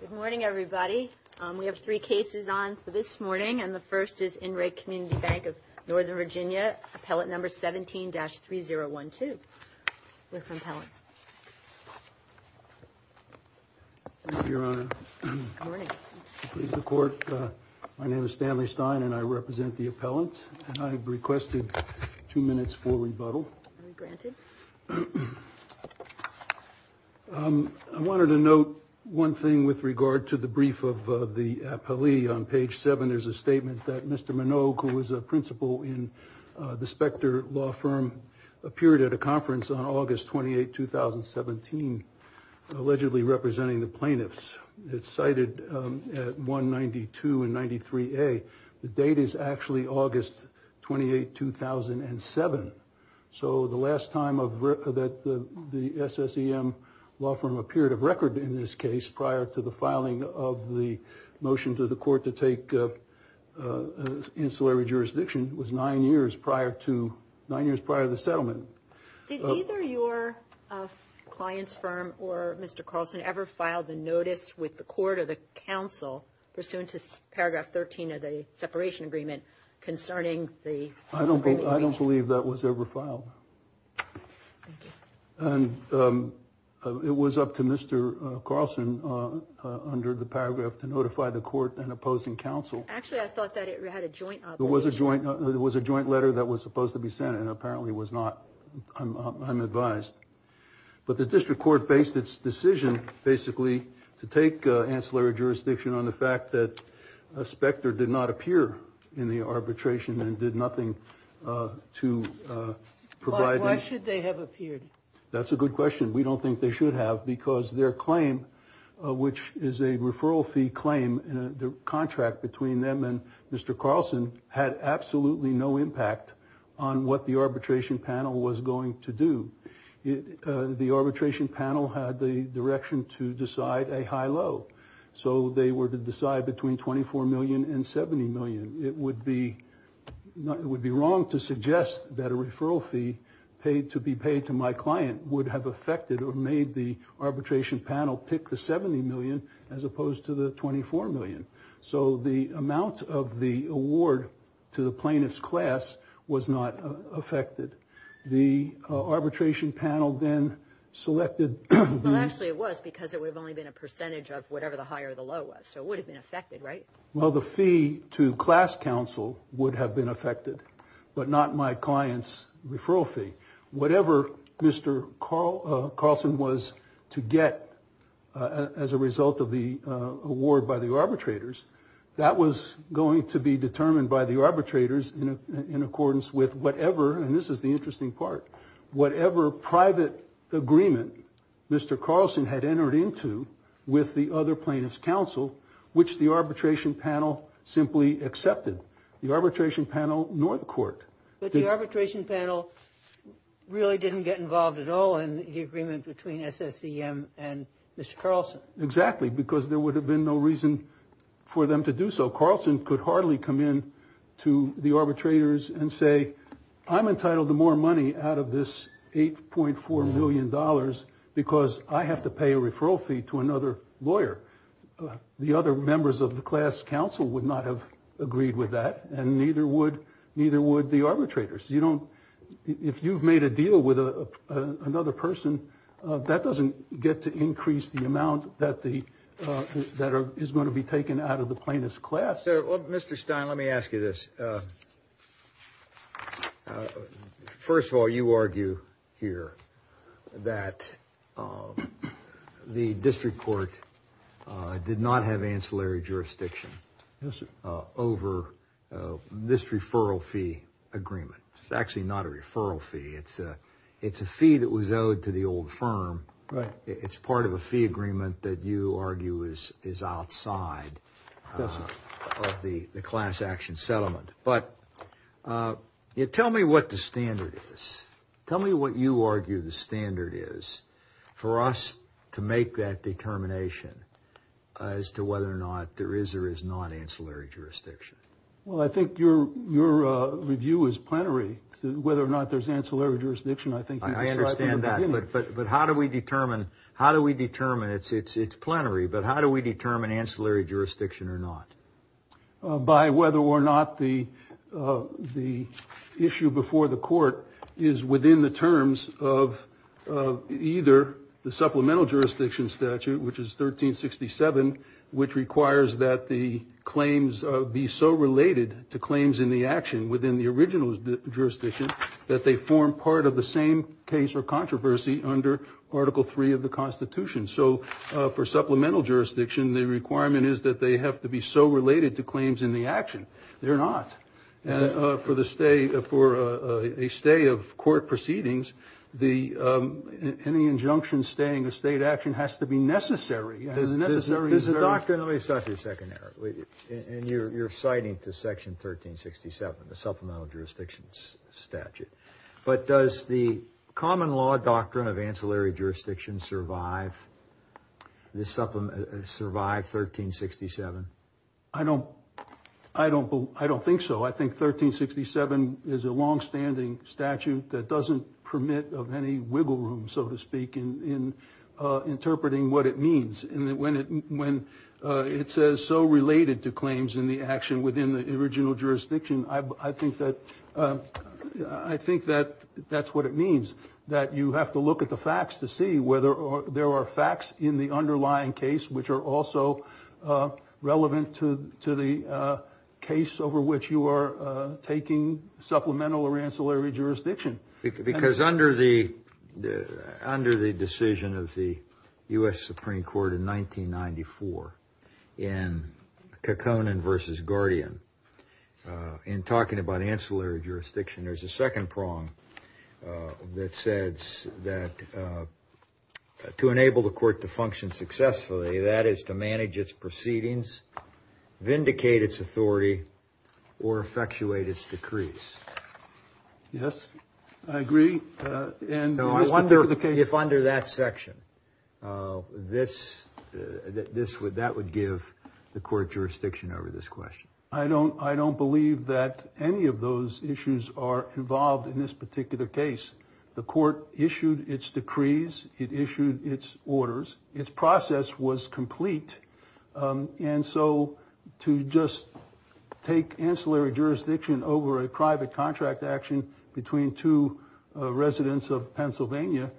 Good morning, everybody. We have three cases on for this morning, and the first is In Re Community Bank of Northern Virginia, appellate number 17-3012. We're from Pellant. Your Honor. Good morning. Please report. My name is Stanley Stein and I represent the appellant. And I requested two minutes for rebuttal. Granted. I wanted to note one thing with regard to the brief of the appellee on page seven. There's a statement that Mr. Minogue, who was a principal in the Specter law firm, appeared at a conference on August 28, 2017, allegedly representing the plaintiffs. It's cited at 192 and 93A. The date is actually August 28, 2007. So the last time that the SSEM law firm appeared of record in this case prior to the filing of the motion to the court to take an ancillary jurisdiction was nine years prior to nine years prior to the settlement. Did either your client's firm or Mr. Carlson ever filed a notice with the court or the council pursuant to paragraph 13 of the separation agreement concerning the. I don't I don't believe that was ever filed. And it was up to Mr. Carlson under the paragraph to notify the court and opposing counsel. Actually, I thought that it had a joint. It was a joint. It was a joint letter that was supposed to be sent and apparently was not. I'm advised. But the district court based its decision basically to take ancillary jurisdiction on the fact that a specter did not appear in the arbitration and did nothing to provide. That's a good question. We don't think they should have because their claim, which is a referral fee claim, the contract between them and Mr. Carlson had absolutely no impact on what the arbitration panel was going to do. The arbitration panel had the direction to decide a high low. So they were to decide between 24 million and 70 million. It would be not it would be wrong to suggest that a referral fee paid to be paid to my client would have affected or made the arbitration panel pick the 70 million as opposed to the 24 million. So the amount of the award to the plaintiff's class was not affected. The arbitration panel then selected. Well, actually, it was because it would have only been a percentage of whatever the higher the low was. So it would have been affected. Right. Well, the fee to class counsel would have been affected, but not my client's referral fee. Whatever Mr. Carl Carlson was to get as a result of the award by the arbitrators, that was going to be determined by the arbitrators in accordance with whatever. And this is the interesting part. Whatever private agreement Mr. Carlson had entered into with the other plaintiff's counsel, which the arbitration panel simply accepted the arbitration panel nor the court. But the arbitration panel really didn't get involved at all in the agreement between SSCM and Mr. Carlson. Exactly, because there would have been no reason for them to do so. Carlson could hardly come in to the arbitrators and say, I'm entitled to more money out of this eight point four million dollars because I have to pay a referral fee to another lawyer. The other members of the class counsel would not have agreed with that and neither would neither would the arbitrators. You don't if you've made a deal with another person that doesn't get to increase the amount that the that is going to be taken out of the plaintiff's class. So, Mr. Stein, let me ask you this. First of all, you argue here that the district court did not have ancillary jurisdiction over this referral fee agreement. It's actually not a referral fee. It's a it's a fee that was owed to the old firm. Right. It's part of a fee agreement that you argue is is outside the class action settlement. But you tell me what the standard is. Tell me what you argue the standard is for us to make that determination as to whether or not there is or is not ancillary jurisdiction. Well, I think your your review is plenary whether or not there's ancillary jurisdiction. I think I understand that. But how do we determine how do we determine it's it's it's plenary. But how do we determine ancillary jurisdiction or not by whether or not the the issue before the court is within the terms of either the supplemental jurisdiction statute, which is 1367, which requires that the claims be so related to claims in the action within the original jurisdiction that they form part of the same case or controversy under Article three of the Constitution. So for supplemental jurisdiction, the requirement is that they have to be so related to claims in the action. They're not. And for the state, for a stay of court proceedings, the any injunction staying a state action has to be necessary. There's a doctrinally such a secondary. And you're citing to Section 1367, the supplemental jurisdictions statute. But does the common law doctrine of ancillary jurisdiction survive this supplement? Survive 1367? I don't I don't I don't think so. I think 1367 is a longstanding statute that doesn't permit of any wiggle room, so to speak, in interpreting what it means. And when it when it says so related to claims in the action within the original jurisdiction, I think that I think that that's what it means, that you have to look at the facts to see whether there are facts in the underlying case which are also relevant to to the case over which you are taking supplemental or ancillary jurisdiction. Because under the under the decision of the U.S. Supreme Court in 1994 in Kekkonen versus Guardian in talking about ancillary jurisdiction, there's a second prong that says that to enable the court to function successfully, that is to manage its proceedings, vindicate its authority or effectuate its decrees. Yes, I agree. And I wonder if under that section, this this would that would give the court jurisdiction over this question. I don't I don't believe that any of those issues are involved in this particular case. The court issued its decrees. It issued its orders. Its process was complete. And so to just take ancillary jurisdiction over a private contract action between two residents of Pennsylvania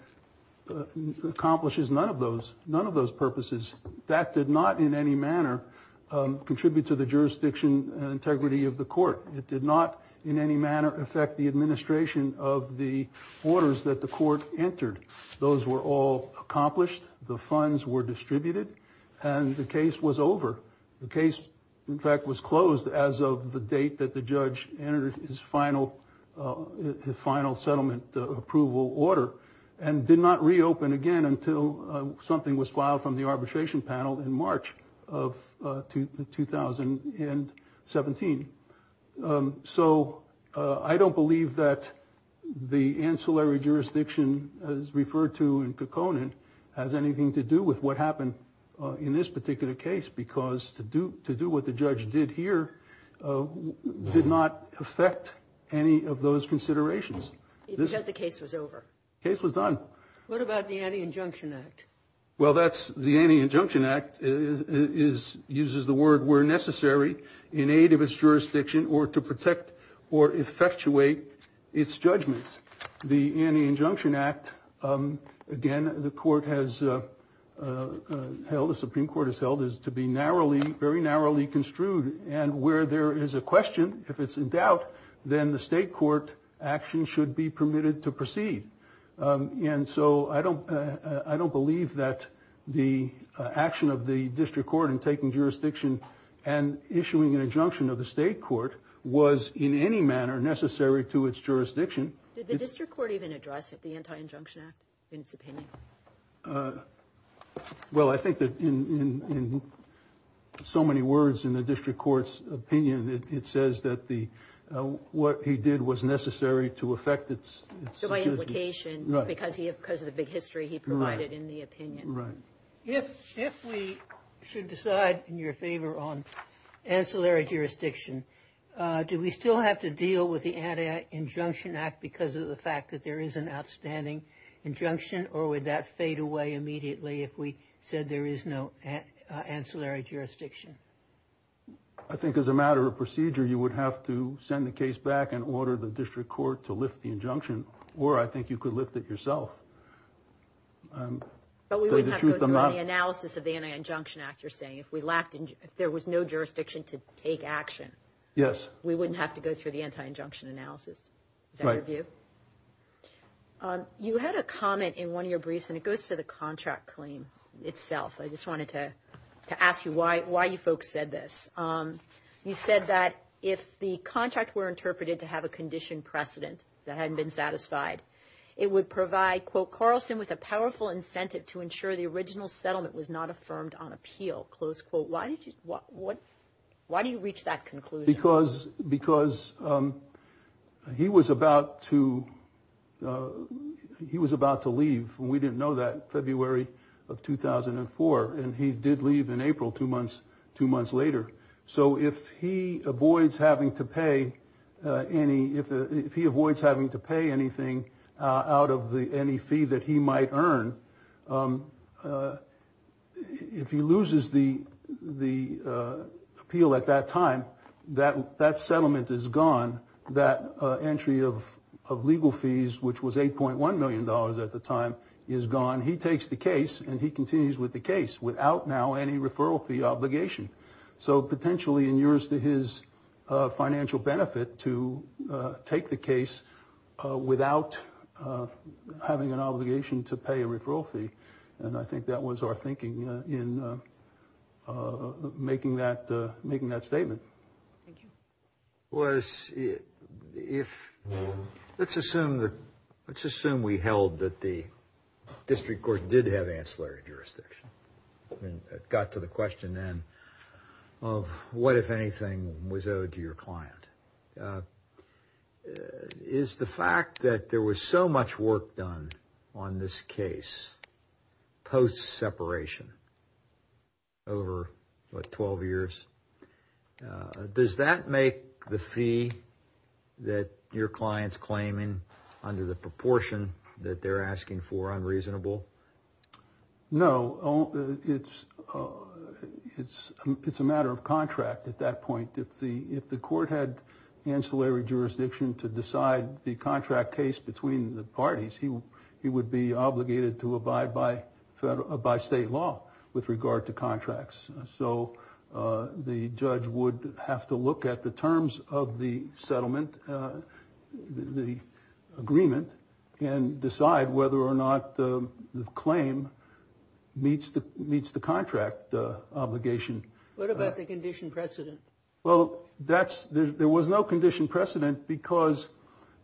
accomplishes none of those. None of those purposes that did not in any manner contribute to the jurisdiction integrity of the court. It did not in any manner affect the administration of the orders that the court entered. Those were all accomplished. The funds were distributed and the case was over. The case, in fact, was closed as of the date that the judge entered his final final settlement approval order and did not reopen again until something was filed from the arbitration panel in March of 2017. So I don't believe that the ancillary jurisdiction as referred to in Kekkonen has anything to do with what happened in this particular case, because to do to do what the judge did here did not affect any of those considerations. The case was over. Case was done. What about the anti injunction act? Well, that's the anti injunction act is uses the word where necessary in aid of its jurisdiction or to protect or effectuate its judgments. The anti injunction act. Again, the court has held the Supreme Court has held is to be narrowly, very narrowly construed. And where there is a question, if it's in doubt, then the state court action should be permitted to proceed. And so I don't I don't believe that the action of the district court in taking jurisdiction and issuing an injunction of the state court was in any manner necessary to its jurisdiction. Did the district court even address the anti injunction act in its opinion? Well, I think that in so many words in the district court's opinion, it says that the what he did was necessary to affect its. So my implication is because he because of the big history he provided in the opinion. Right. If if we should decide in your favor on ancillary jurisdiction, do we still have to deal with the anti injunction act because of the fact that there is an outstanding injunction? Or would that fade away immediately if we said there is no ancillary jurisdiction? I think as a matter of procedure, you would have to send the case back and order the district court to lift the injunction. Or I think you could lift it yourself. But we wouldn't have the analysis of the injunction act. You're saying if we lacked and there was no jurisdiction to take action. Yes, we wouldn't have to go through the anti injunction analysis. You had a comment in one of your briefs and it goes to the contract claim itself. I just wanted to ask you why why you folks said this. You said that if the contract were interpreted to have a condition precedent that hadn't been satisfied, it would provide quote Carlson with a powerful incentive to ensure the original settlement was not affirmed on appeal. Close quote. Why did you what what why do you reach that conclusion? Because because he was about to he was about to leave. We didn't know that. February of 2004. And he did leave in April, two months, two months later. So if he avoids having to pay any if he avoids having to pay anything out of the any fee that he might earn, if he loses the the appeal at that time, that that settlement is gone. That entry of of legal fees, which was eight point one million dollars at the time, is gone. He takes the case and he continues with the case without now any referral fee obligation. So potentially in years to his financial benefit to take the case without having an obligation to pay a referral fee. And I think that was our thinking in making that making that statement. Was it if let's assume that let's assume we held that the district court did have ancillary jurisdiction. Got to the question then of what, if anything, was owed to your client. Is the fact that there was so much work done on this case post separation. Over 12 years, does that make the fee that your clients claiming under the proportion that they're asking for unreasonable? No, it's it's it's a matter of contract. At that point, if the if the court had ancillary jurisdiction to decide the contract case between the parties, he he would be obligated to abide by by state law with regard to contracts. So the judge would have to look at the terms of the settlement, the agreement, and decide whether or not the claim meets the meets the contract obligation. What about the condition precedent? Well, that's there. There was no condition precedent because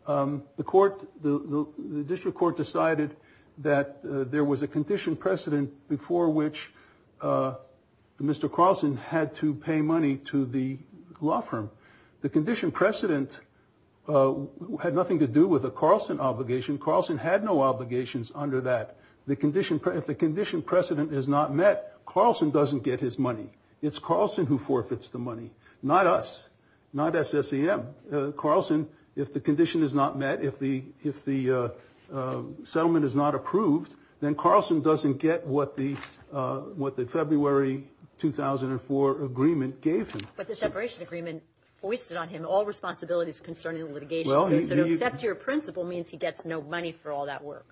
the court, the district court decided that there was a condition precedent before which Mr. Carlson had to pay money to the law firm. The condition precedent had nothing to do with the Carlson obligation. Carlson had no obligations under that. The condition. If the condition precedent is not met, Carlson doesn't get his money. It's Carlson who forfeits the money. Not us. Not SSCM Carlson. If the condition is not met, if the if the settlement is not approved, then Carlson doesn't get what the what the February 2004 agreement gave him. The separation agreement foisted on him all responsibilities concerning litigation. Well, except your principle means he gets no money for all that work.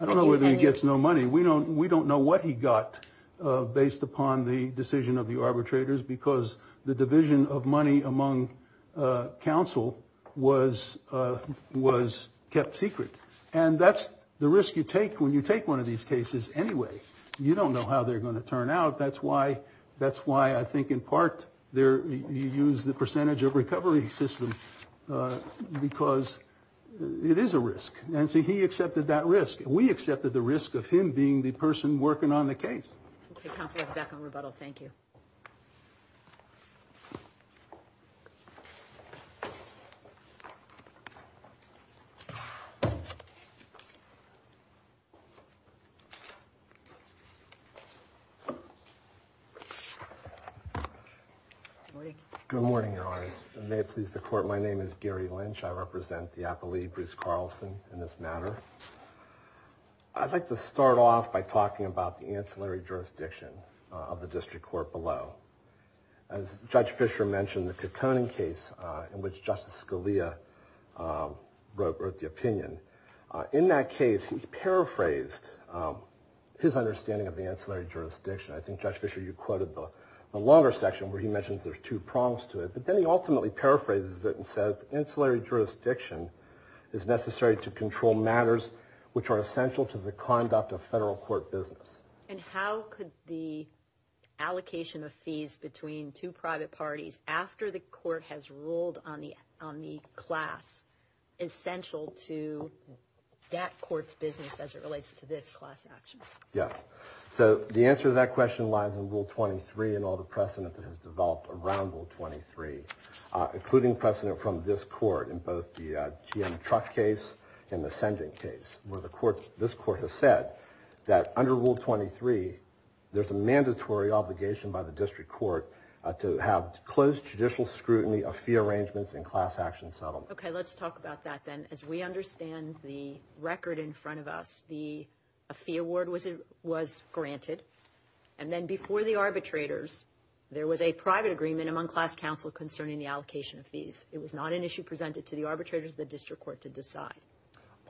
I don't know whether he gets no money. We don't we don't know what he got based upon the decision of the arbitrators, because the division of money among counsel was was kept secret. And that's the risk you take when you take one of these cases anyway. You don't know how they're going to turn out. That's why that's why I think in part there you use the percentage of recovery system because it is a risk. And so he accepted that risk. We accepted the risk of him being the person working on the case. Back on rebuttal. Thank you. Good morning. May it please the court. My name is Gary Lynch. I represent the appellee Bruce Carlson in this matter. I'd like to start off by talking about the ancillary jurisdiction of the district court below. As Judge Fisher mentioned, the Kekoning case in which Justice Scalia wrote the opinion. In that case, he paraphrased his understanding of the ancillary jurisdiction. I think, Judge Fisher, you quoted the longer section where he mentions there's two prongs to it. But then he ultimately paraphrases it and says ancillary jurisdiction is necessary to control matters which are essential to the conduct of federal court business. And how could the allocation of fees between two private parties after the court has ruled on the on the class essential to that court's business as it relates to this class action? Yes. So the answer to that question lies in Rule 23 and all the precedent that has developed around Rule 23, including precedent from this court in both the GM truck case and the sentence case where the court this court has said that under Rule 23, there's a mandatory obligation by the district court to have closed judicial scrutiny of fee arrangements and class action settlement. OK, let's talk about that then, as we understand the record in front of us, the fee award was it was granted. And then before the arbitrators, there was a private agreement among class counsel concerning the allocation of fees. It was not an issue presented to the arbitrators, the district court to decide.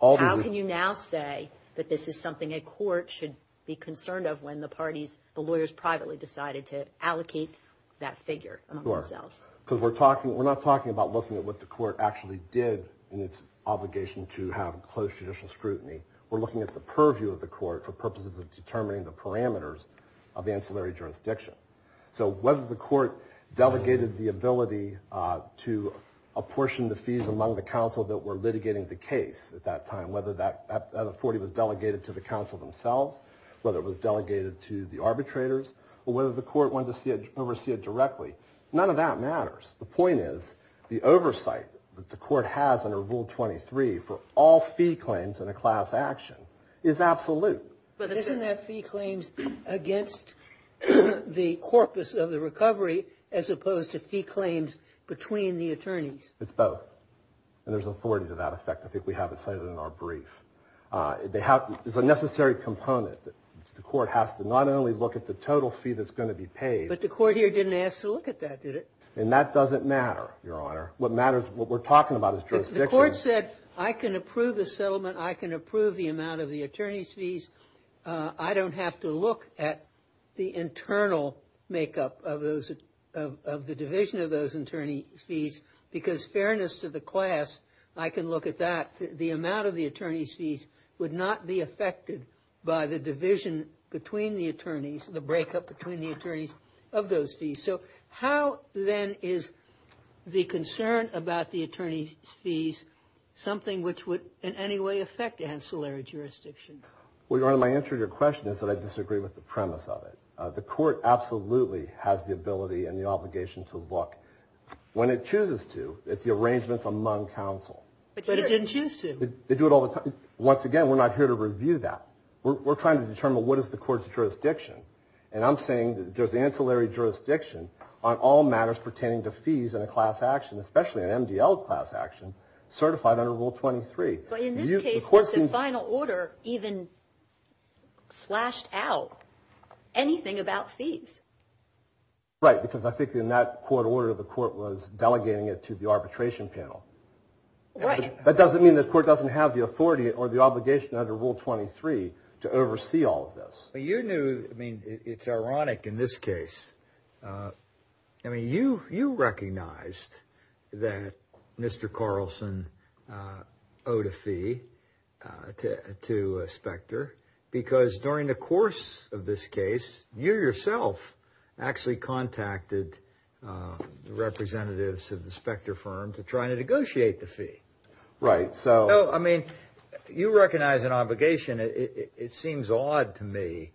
How can you now say that this is something a court should be concerned of when the parties, the lawyers privately decided to allocate that figure? Because we're talking we're not talking about looking at what the court actually did in its obligation to have closed judicial scrutiny. We're looking at the purview of the court for purposes of determining the parameters of ancillary jurisdiction. So whether the court delegated the ability to apportion the fees among the counsel that were litigating the case at that time, whether that 40 was delegated to the counsel themselves, whether it was delegated to the arbitrators, or whether the court wanted to oversee it directly, none of that matters. The point is the oversight that the court has under Rule 23 for all fee claims in a class action is absolute. But isn't that fee claims against the corpus of the recovery as opposed to fee claims between the attorneys? It's both, and there's authority to that effect. I think we have it cited in our brief. It's a necessary component that the court has to not only look at the total fee that's going to be paid. But the court here didn't ask to look at that, did it? And that doesn't matter, Your Honor. What matters, what we're talking about is jurisdiction. The court said I can approve the settlement. I can approve the amount of the attorney's fees. I don't have to look at the internal makeup of the division of those attorney's fees because fairness to the class, I can look at that. In fact, the amount of the attorney's fees would not be affected by the division between the attorneys, the breakup between the attorneys of those fees. So how, then, is the concern about the attorney's fees something which would in any way affect ancillary jurisdiction? Well, Your Honor, my answer to your question is that I disagree with the premise of it. The court absolutely has the ability and the obligation to look, when it chooses to, at the arrangements among counsel. But it didn't choose to. They do it all the time. Once again, we're not here to review that. We're trying to determine what is the court's jurisdiction. And I'm saying there's ancillary jurisdiction on all matters pertaining to fees in a class action, especially an MDL class action certified under Rule 23. But in this case, the final order even slashed out anything about fees. Right, because I think in that court order, the court was delegating it to the arbitration panel. That doesn't mean the court doesn't have the authority or the obligation under Rule 23 to oversee all of this. You knew, I mean, it's ironic in this case. I mean, you recognized that Mr. Carlson owed a fee to Specter because during the course of this case, you yourself actually contacted the representatives of the Specter firm to try to negotiate the fee. Right. So, I mean, you recognize an obligation. It seems odd to me,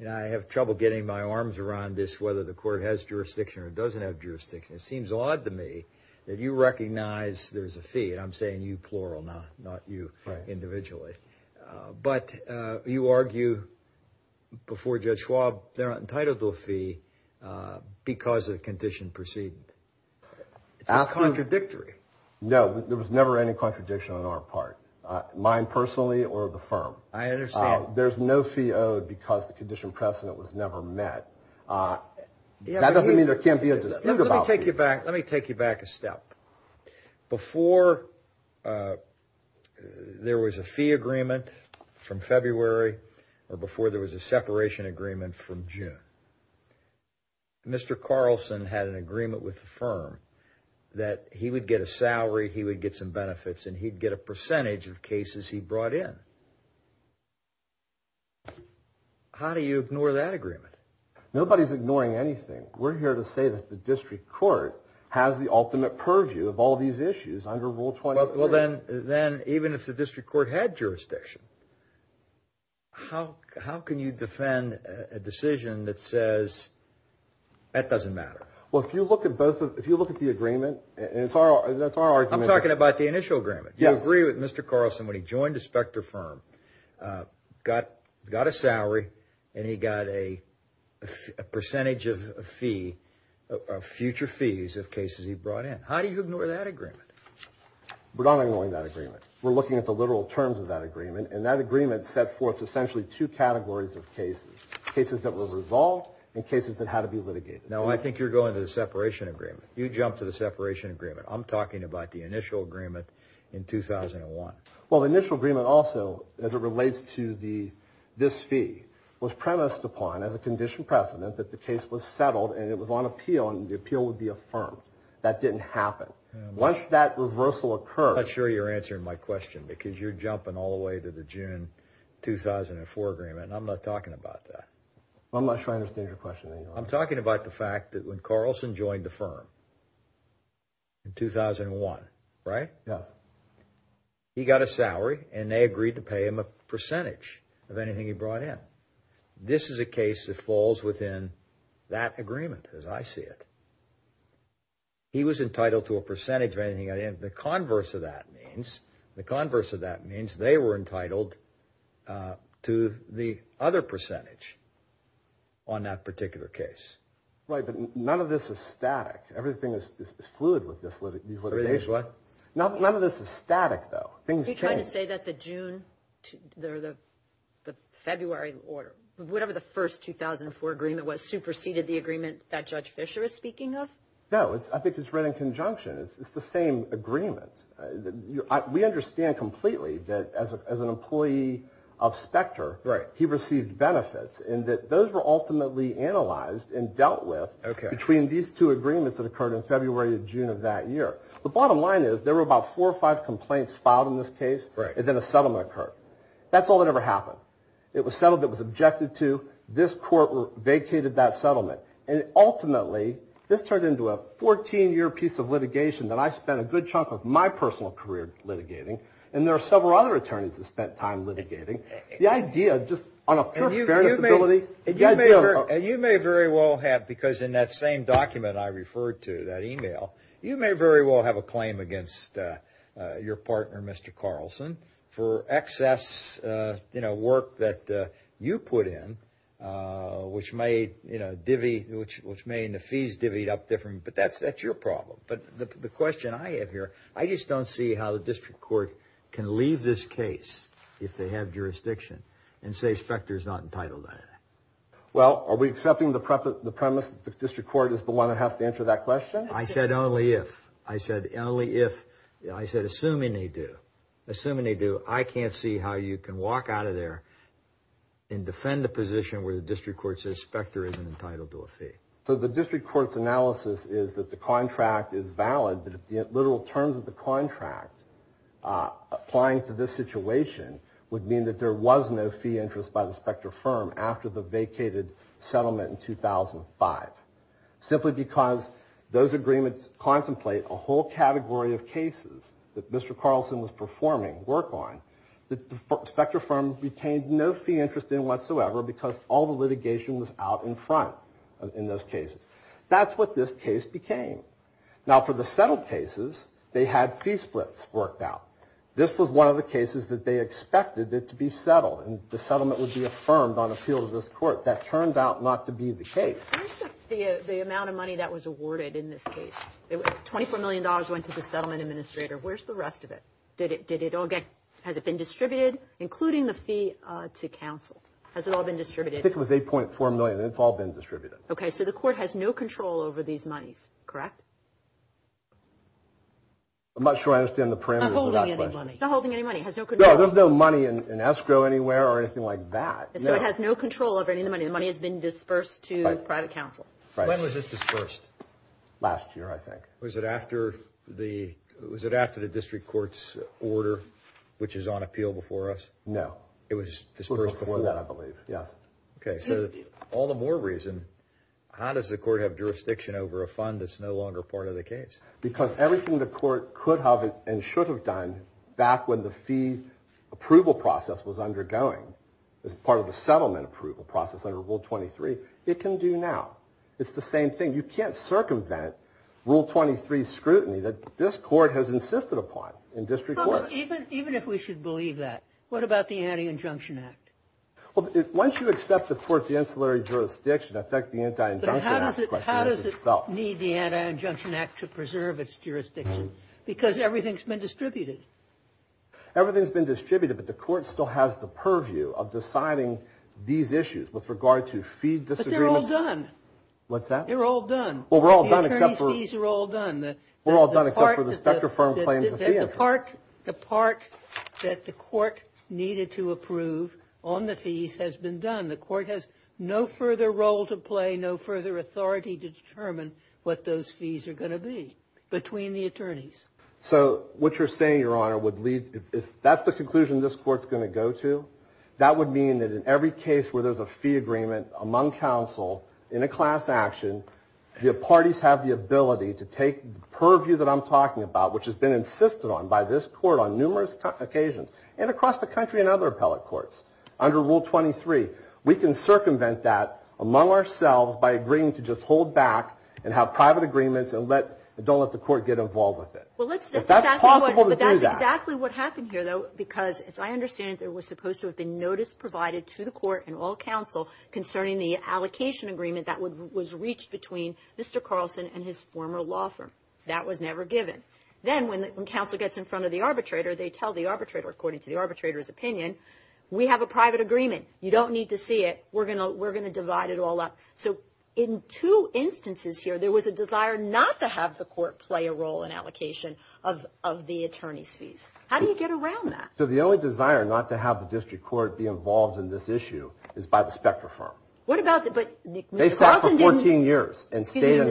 and I have trouble getting my arms around this, whether the court has jurisdiction or doesn't have jurisdiction. It seems odd to me that you recognize there's a fee. And I'm saying you plural, not you individually. But you argue before Judge Schwab they're entitled to a fee because of the condition preceded. It's contradictory. No, there was never any contradiction on our part, mine personally or the firm. I understand. There's no fee owed because the condition precedent was never met. That doesn't mean there can't be a dispute about fees. Let me take you back a step. Before there was a fee agreement from February or before there was a separation agreement from June, Mr. Carlson had an agreement with the firm that he would get a salary, he would get some benefits, and he'd get a percentage of cases he brought in. How do you ignore that agreement? Nobody's ignoring anything. We're here to say that the district court has the ultimate purview of all these issues under Rule 23. Well, then even if the district court had jurisdiction, how can you defend a decision that says that doesn't matter? Well, if you look at the agreement, and that's our argument. I'm talking about the initial agreement. You agree with Mr. Carlson when he joined the Specter firm, got a salary, and he got a percentage of future fees of cases he brought in. How do you ignore that agreement? We're not ignoring that agreement. We're looking at the literal terms of that agreement, and that agreement set forth essentially two categories of cases, cases that were resolved and cases that had to be litigated. Now, I think you're going to the separation agreement. You jumped to the separation agreement. I'm talking about the initial agreement in 2001. Well, the initial agreement also, as it relates to this fee, was premised upon as a condition precedent that the case was settled and it was on appeal and the appeal would be affirmed. That didn't happen. Once that reversal occurred. I'm not sure you're answering my question because you're jumping all the way to the June 2004 agreement, and I'm not talking about that. I'm not sure I understand your question. I'm talking about the fact that when Carlson joined the firm in 2001, right? Yes. He got a salary, and they agreed to pay him a percentage of anything he brought in. This is a case that falls within that agreement as I see it. He was entitled to a percentage of anything he got in. The converse of that means they were entitled to the other percentage on that particular case. Right, but none of this is static. Everything is fluid with this litigation. Everything is what? None of this is static, though. Are you trying to say that the February order, whatever the first 2004 agreement was, superseded the agreement that Judge Fischer is speaking of? No, I think it's right in conjunction. It's the same agreement. We understand completely that as an employee of Spectre he received benefits and that those were ultimately analyzed and dealt with between these two agreements that occurred in February and June of that year. The bottom line is there were about four or five complaints filed in this case, and then a settlement occurred. That's all that ever happened. It was settled. It was objected to. This court vacated that settlement. And ultimately this turned into a 14-year piece of litigation that I spent a good chunk of my personal career litigating, and there are several other attorneys that spent time litigating. The idea, just on a pure fairness ability. You may very well have, because in that same document I referred to, that email, you may very well have a claim against your partner, Mr. Carlson, for excess work that you put in, which may in the fees divvied up differently. But that's your problem. But the question I have here, I just don't see how the district court can leave this case if they have jurisdiction and say Spectre is not entitled to anything. Well, are we accepting the premise that the district court is the one that has to answer that question? I said only if. I said only if. I said assuming they do. Assuming they do, I can't see how you can walk out of there So the district court's analysis is that the contract is valid, but the literal terms of the contract applying to this situation would mean that there was no fee interest by the Spectre firm after the vacated settlement in 2005. Simply because those agreements contemplate a whole category of cases that Mr. Carlson was performing work on, that the Spectre firm retained no fee interest in whatsoever because all the litigation was out in front in those cases. That's what this case became. Now, for the settled cases, they had fee splits worked out. This was one of the cases that they expected to be settled, and the settlement would be affirmed on appeal to this court. That turned out not to be the case. Where's the amount of money that was awarded in this case? $24 million went to the settlement administrator. Where's the rest of it? Has it been distributed, including the fee to counsel? Has it all been distributed? I think it was $8.4 million, and it's all been distributed. Okay, so the court has no control over these monies, correct? I'm not sure I understand the parameters of that question. Not holding any money. Not holding any money. No, there's no money in escrow anywhere or anything like that. So it has no control over any of the money. The money has been dispersed to private counsel. When was this dispersed? Last year, I think. Was it after the district court's order, which is on appeal before us? No. It was dispersed before that, I believe. Yes. Okay, so all the more reason. How does the court have jurisdiction over a fund that's no longer part of the case? Because everything the court could have and should have done back when the fee approval process was undergoing as part of the settlement approval process under Rule 23, it can do now. It's the same thing. You can't circumvent Rule 23 scrutiny that this court has insisted upon in district court. Well, even if we should believe that, what about the Anti-Injunction Act? Well, once you accept the court's ancillary jurisdiction, I think the Anti-Injunction Act question is itself. But how does it need the Anti-Injunction Act to preserve its jurisdiction? Because everything's been distributed. Everything's been distributed, but the court still has the purview of deciding these issues with regard to fee disagreements. But they're all done. What's that? They're all done. Well, we're all done except for – The attorney's fees are all done. We're all done except for the Specter Firm claims of fee interest. The part that the court needed to approve on the fees has been done. The court has no further role to play, no further authority to determine what those fees are going to be between the attorneys. So what you're saying, Your Honor, would lead – if that's the conclusion this court's going to go to, that would mean that in every case where there's a fee agreement among counsel in a class action, the parties have the ability to take purview that I'm talking about, which has been insisted on by this court on numerous occasions, and across the country in other appellate courts under Rule 23. We can circumvent that among ourselves by agreeing to just hold back and have private agreements and don't let the court get involved with it. But that's possible to do that. But that's exactly what happened here, though, because as I understand it, there was supposed to have been notice provided to the court and all counsel concerning the allocation agreement that was reached between Mr. Carlson and his former law firm. That was never given. Then when counsel gets in front of the arbitrator, they tell the arbitrator according to the arbitrator's opinion, we have a private agreement. You don't need to see it. We're going to divide it all up. So in two instances here, there was a desire not to have the court play a role in allocation of the attorney's fees. How do you get around that? So the only desire not to have the district court be involved in this issue is by the Specter firm. They sat for 14 years. Excuse me,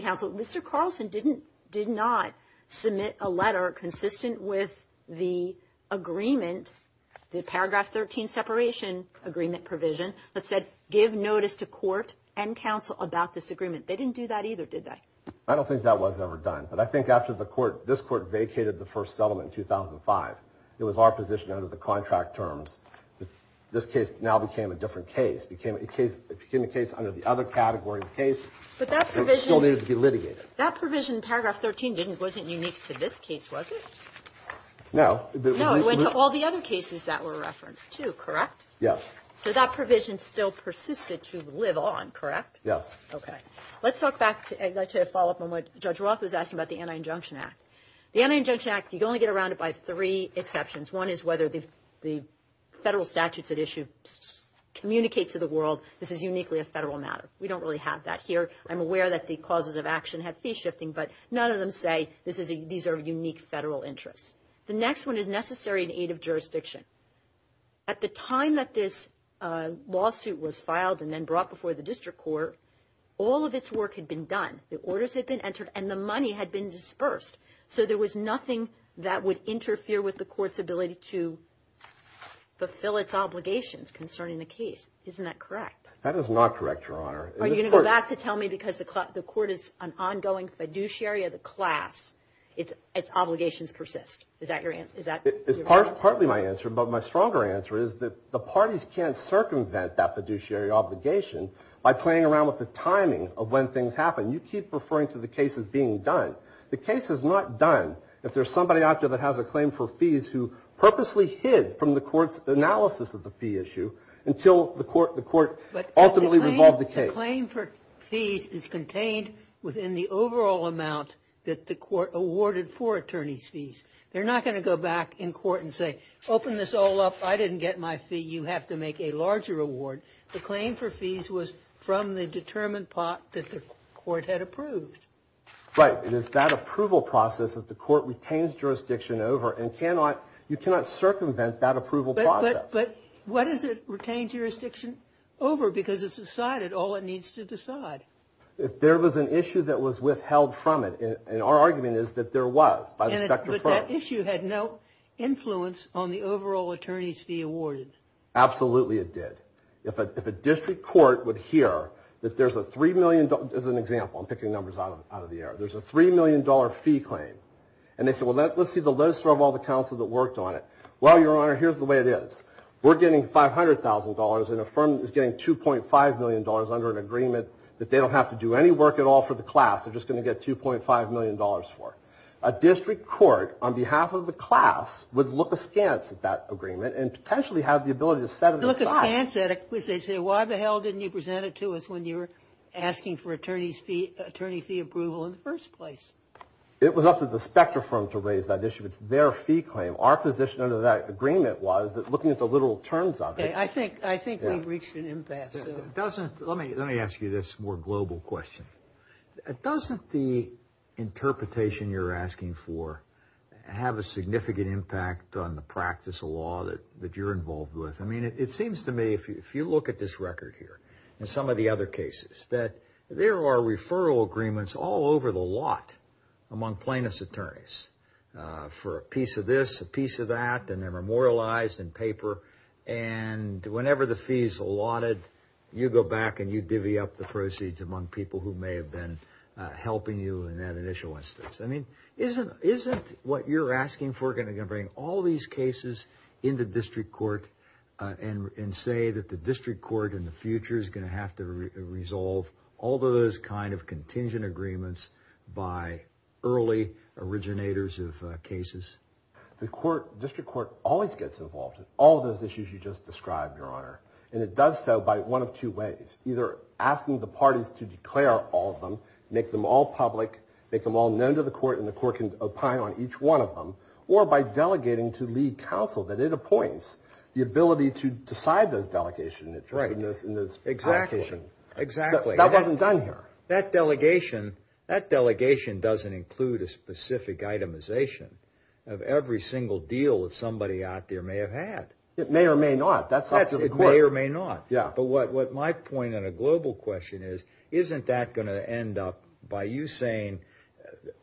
counsel. Mr. Carlson did not submit a letter consistent with the agreement, the paragraph 13 separation agreement provision, that said give notice to court and counsel about this agreement. They didn't do that either, did they? I don't think that was ever done. But I think after this court vacated the first settlement in 2005, it was our position under the contract terms that this case now became a different case. It became a case under the other category of case. But that provision still needed to be litigated. That provision in paragraph 13 wasn't unique to this case, was it? No. No, it went to all the other cases that were referenced too, correct? Yes. So that provision still persisted to live on, correct? Yes. Okay. Let's talk back to a follow-up on what Judge Roth was asking about the Anti-Injunction Act. The Anti-Injunction Act, you only get around it by three exceptions. One is whether the federal statutes at issue communicate to the world this is uniquely a federal matter. We don't really have that here. I'm aware that the causes of action have fee shifting, but none of them say these are unique federal interests. The next one is necessary in aid of jurisdiction. At the time that this lawsuit was filed and then brought before the district court, all of its work had been done. The orders had been entered, and the money had been dispersed. So there was nothing that would interfere with the court's ability to fulfill its obligations concerning the case. Isn't that correct? That is not correct, Your Honor. Are you going to go back to tell me because the court is an ongoing fiduciary of the class, its obligations persist? Is that your answer? It's partly my answer, but my stronger answer is that the parties can't circumvent that fiduciary obligation by playing around with the timing of when things happen. You keep referring to the cases being done. The case is not done if there's somebody out there that has a claim for fees who purposely hid from the court's analysis of the fee issue until the court ultimately resolved the case. But the claim for fees is contained within the overall amount that the court awarded for attorneys' fees. They're not going to go back in court and say, open this all up. I didn't get my fee. You have to make a larger award. The claim for fees was from the determined pot that the court had approved. Right. It is that approval process that the court retains jurisdiction over and you cannot circumvent that approval process. But what does it retain jurisdiction over? Because it's decided all it needs to decide. If there was an issue that was withheld from it, and our argument is that there was. But that issue had no influence on the overall attorney's fee awarded. Absolutely it did. If a district court would hear that there's a $3 million. As an example, I'm picking numbers out of the air. There's a $3 million fee claim. And they said, well, let's see the list of all the counsel that worked on it. Well, Your Honor, here's the way it is. We're getting $500,000 and a firm is getting $2.5 million under an agreement that they don't have to do any work at all for the class. They're just going to get $2.5 million for it. A district court on behalf of the class would look askance at that agreement and potentially have the ability to set it aside. Why the hell didn't you present it to us when you were asking for attorney fee approval in the first place? It was up to the Specter firm to raise that issue. It's their fee claim. Our position under that agreement was that looking at the literal terms of it. I think we've reached an impasse. Let me ask you this more global question. Doesn't the interpretation you're asking for have a significant impact on the practice of law that you're involved with? I mean, it seems to me if you look at this record here and some of the other cases, that there are referral agreements all over the lot among plaintiff's attorneys for a piece of this, a piece of that, and they're memorialized in paper, and whenever the fee is allotted, you go back and you divvy up the proceeds among people who may have been helping you in that initial instance. I mean, isn't what you're asking for going to bring all these cases into district court and say that the district court in the future is going to have to resolve all those kind of contingent agreements by early originators of cases? The district court always gets involved in all those issues you just described, Your Honor, and it does so by one of two ways, either asking the parties to declare all of them, make them all public, make them all known to the court, and the court can opine on each one of them, or by delegating to lead counsel that it appoints the ability to decide those delegations. Exactly. That wasn't done here. That delegation doesn't include a specific itemization of every single deal that somebody out there may have had. It may or may not. That's up to the court. It may or may not. Yeah. But what my point on a global question is, isn't that going to end up by you saying,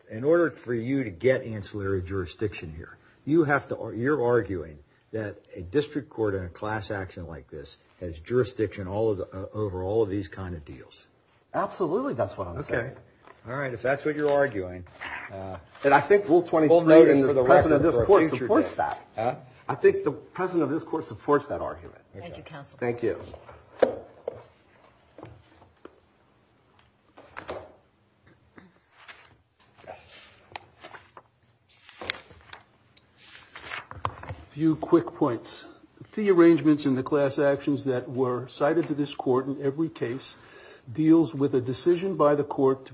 in order for you to get ancillary jurisdiction here, you're arguing that a district court in a class action like this has jurisdiction over all of these kind of deals? Absolutely, that's what I'm saying. Okay. All right, if that's what you're arguing. And I think Rule 23 and the president of this court supports that. I think the president of this court supports that argument. Thank you, counsel. Thank you. A few quick points. The arrangements in the class actions that were cited to this court in every case deals with a decision by the court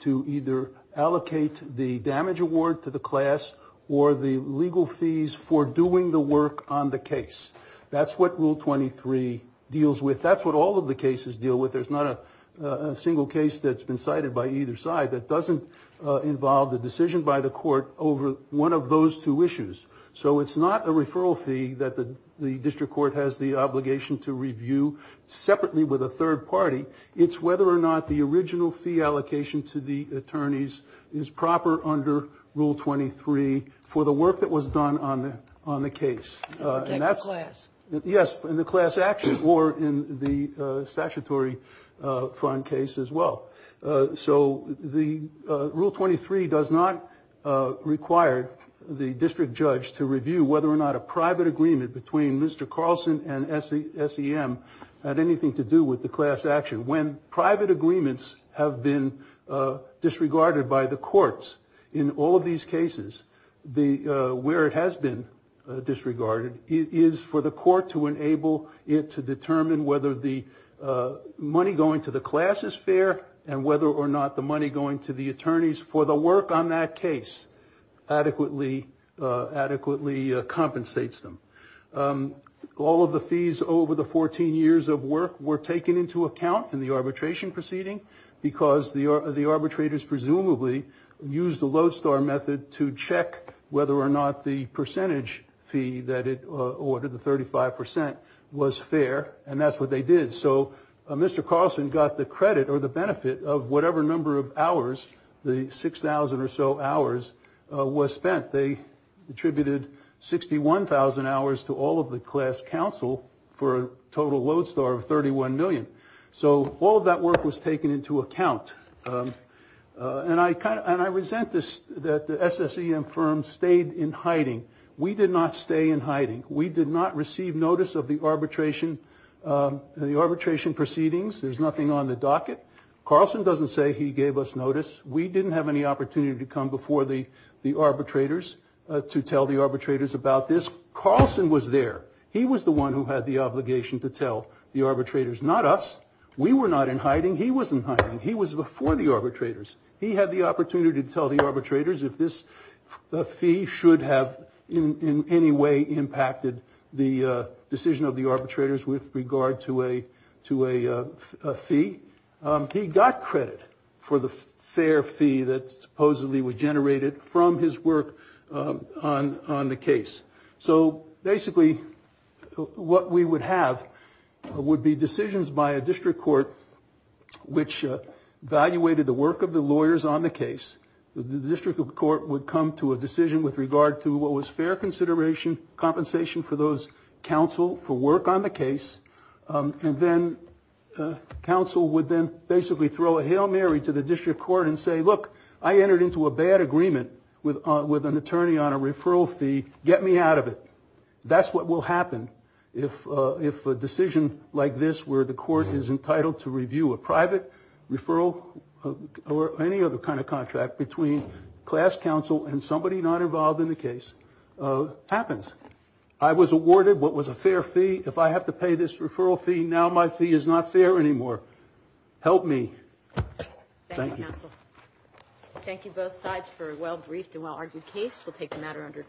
to either allocate the damage award to the class or the legal fees for doing the work on the case. That's what Rule 23 deals with. That's what all of the cases deal with. There's not a single case that's been cited by either side that doesn't involve the decision by the court over one of those two issues. So it's not a referral fee that the district court has the obligation to review separately with a third party. It's whether or not the original fee allocation to the attorneys is proper under Rule 23 for the work that was done on the case. Yes, in the class action or in the statutory front case as well. So Rule 23 does not require the district judge to review whether or not a private agreement between Mr. Carlson and SEM had anything to do with the class action. When private agreements have been disregarded by the courts in all of these cases, where it has been disregarded is for the court to enable it to determine whether the money going to the class is fair and whether or not the money going to the attorneys for the work on that case adequately compensates them. All of the fees over the 14 years of work were taken into account in the arbitration proceeding because the arbitrators presumably used the lodestar method to check whether or not the percentage fee that it ordered, the 35 percent, was fair. And that's what they did. So Mr. Carlson got the credit or the benefit of whatever number of hours, the 6,000 or so hours, was spent. They attributed 61,000 hours to all of the class counsel for a total lodestar of 31 million. So all of that work was taken into account. And I resent that the SSEM firm stayed in hiding. We did not stay in hiding. We did not receive notice of the arbitration proceedings. There's nothing on the docket. Carlson doesn't say he gave us notice. We didn't have any opportunity to come before the arbitrators to tell the arbitrators about this. Carlson was there. He was the one who had the obligation to tell the arbitrators, not us. We were not in hiding. He was in hiding. He was before the arbitrators. He had the opportunity to tell the arbitrators if this fee should have in any way impacted the decision of the arbitrators with regard to a fee. He got credit for the fair fee that supposedly was generated from his work on the case. So basically what we would have would be decisions by a district court which evaluated the work of the lawyers on the case. The district court would come to a decision with regard to what was fair consideration, compensation for those counsel for work on the case. And then counsel would then basically throw a Hail Mary to the district court and say, look, I entered into a bad agreement with an attorney on a referral fee. Get me out of it. That's what will happen if a decision like this where the court is entitled to review a private referral or any other kind of contract between class counsel and somebody not involved in the case happens. I was awarded what was a fair fee. If I have to pay this referral fee now, my fee is not fair anymore. Help me. Thank you. Thank you both sides for a well briefed and well argued case. We'll take the matter under.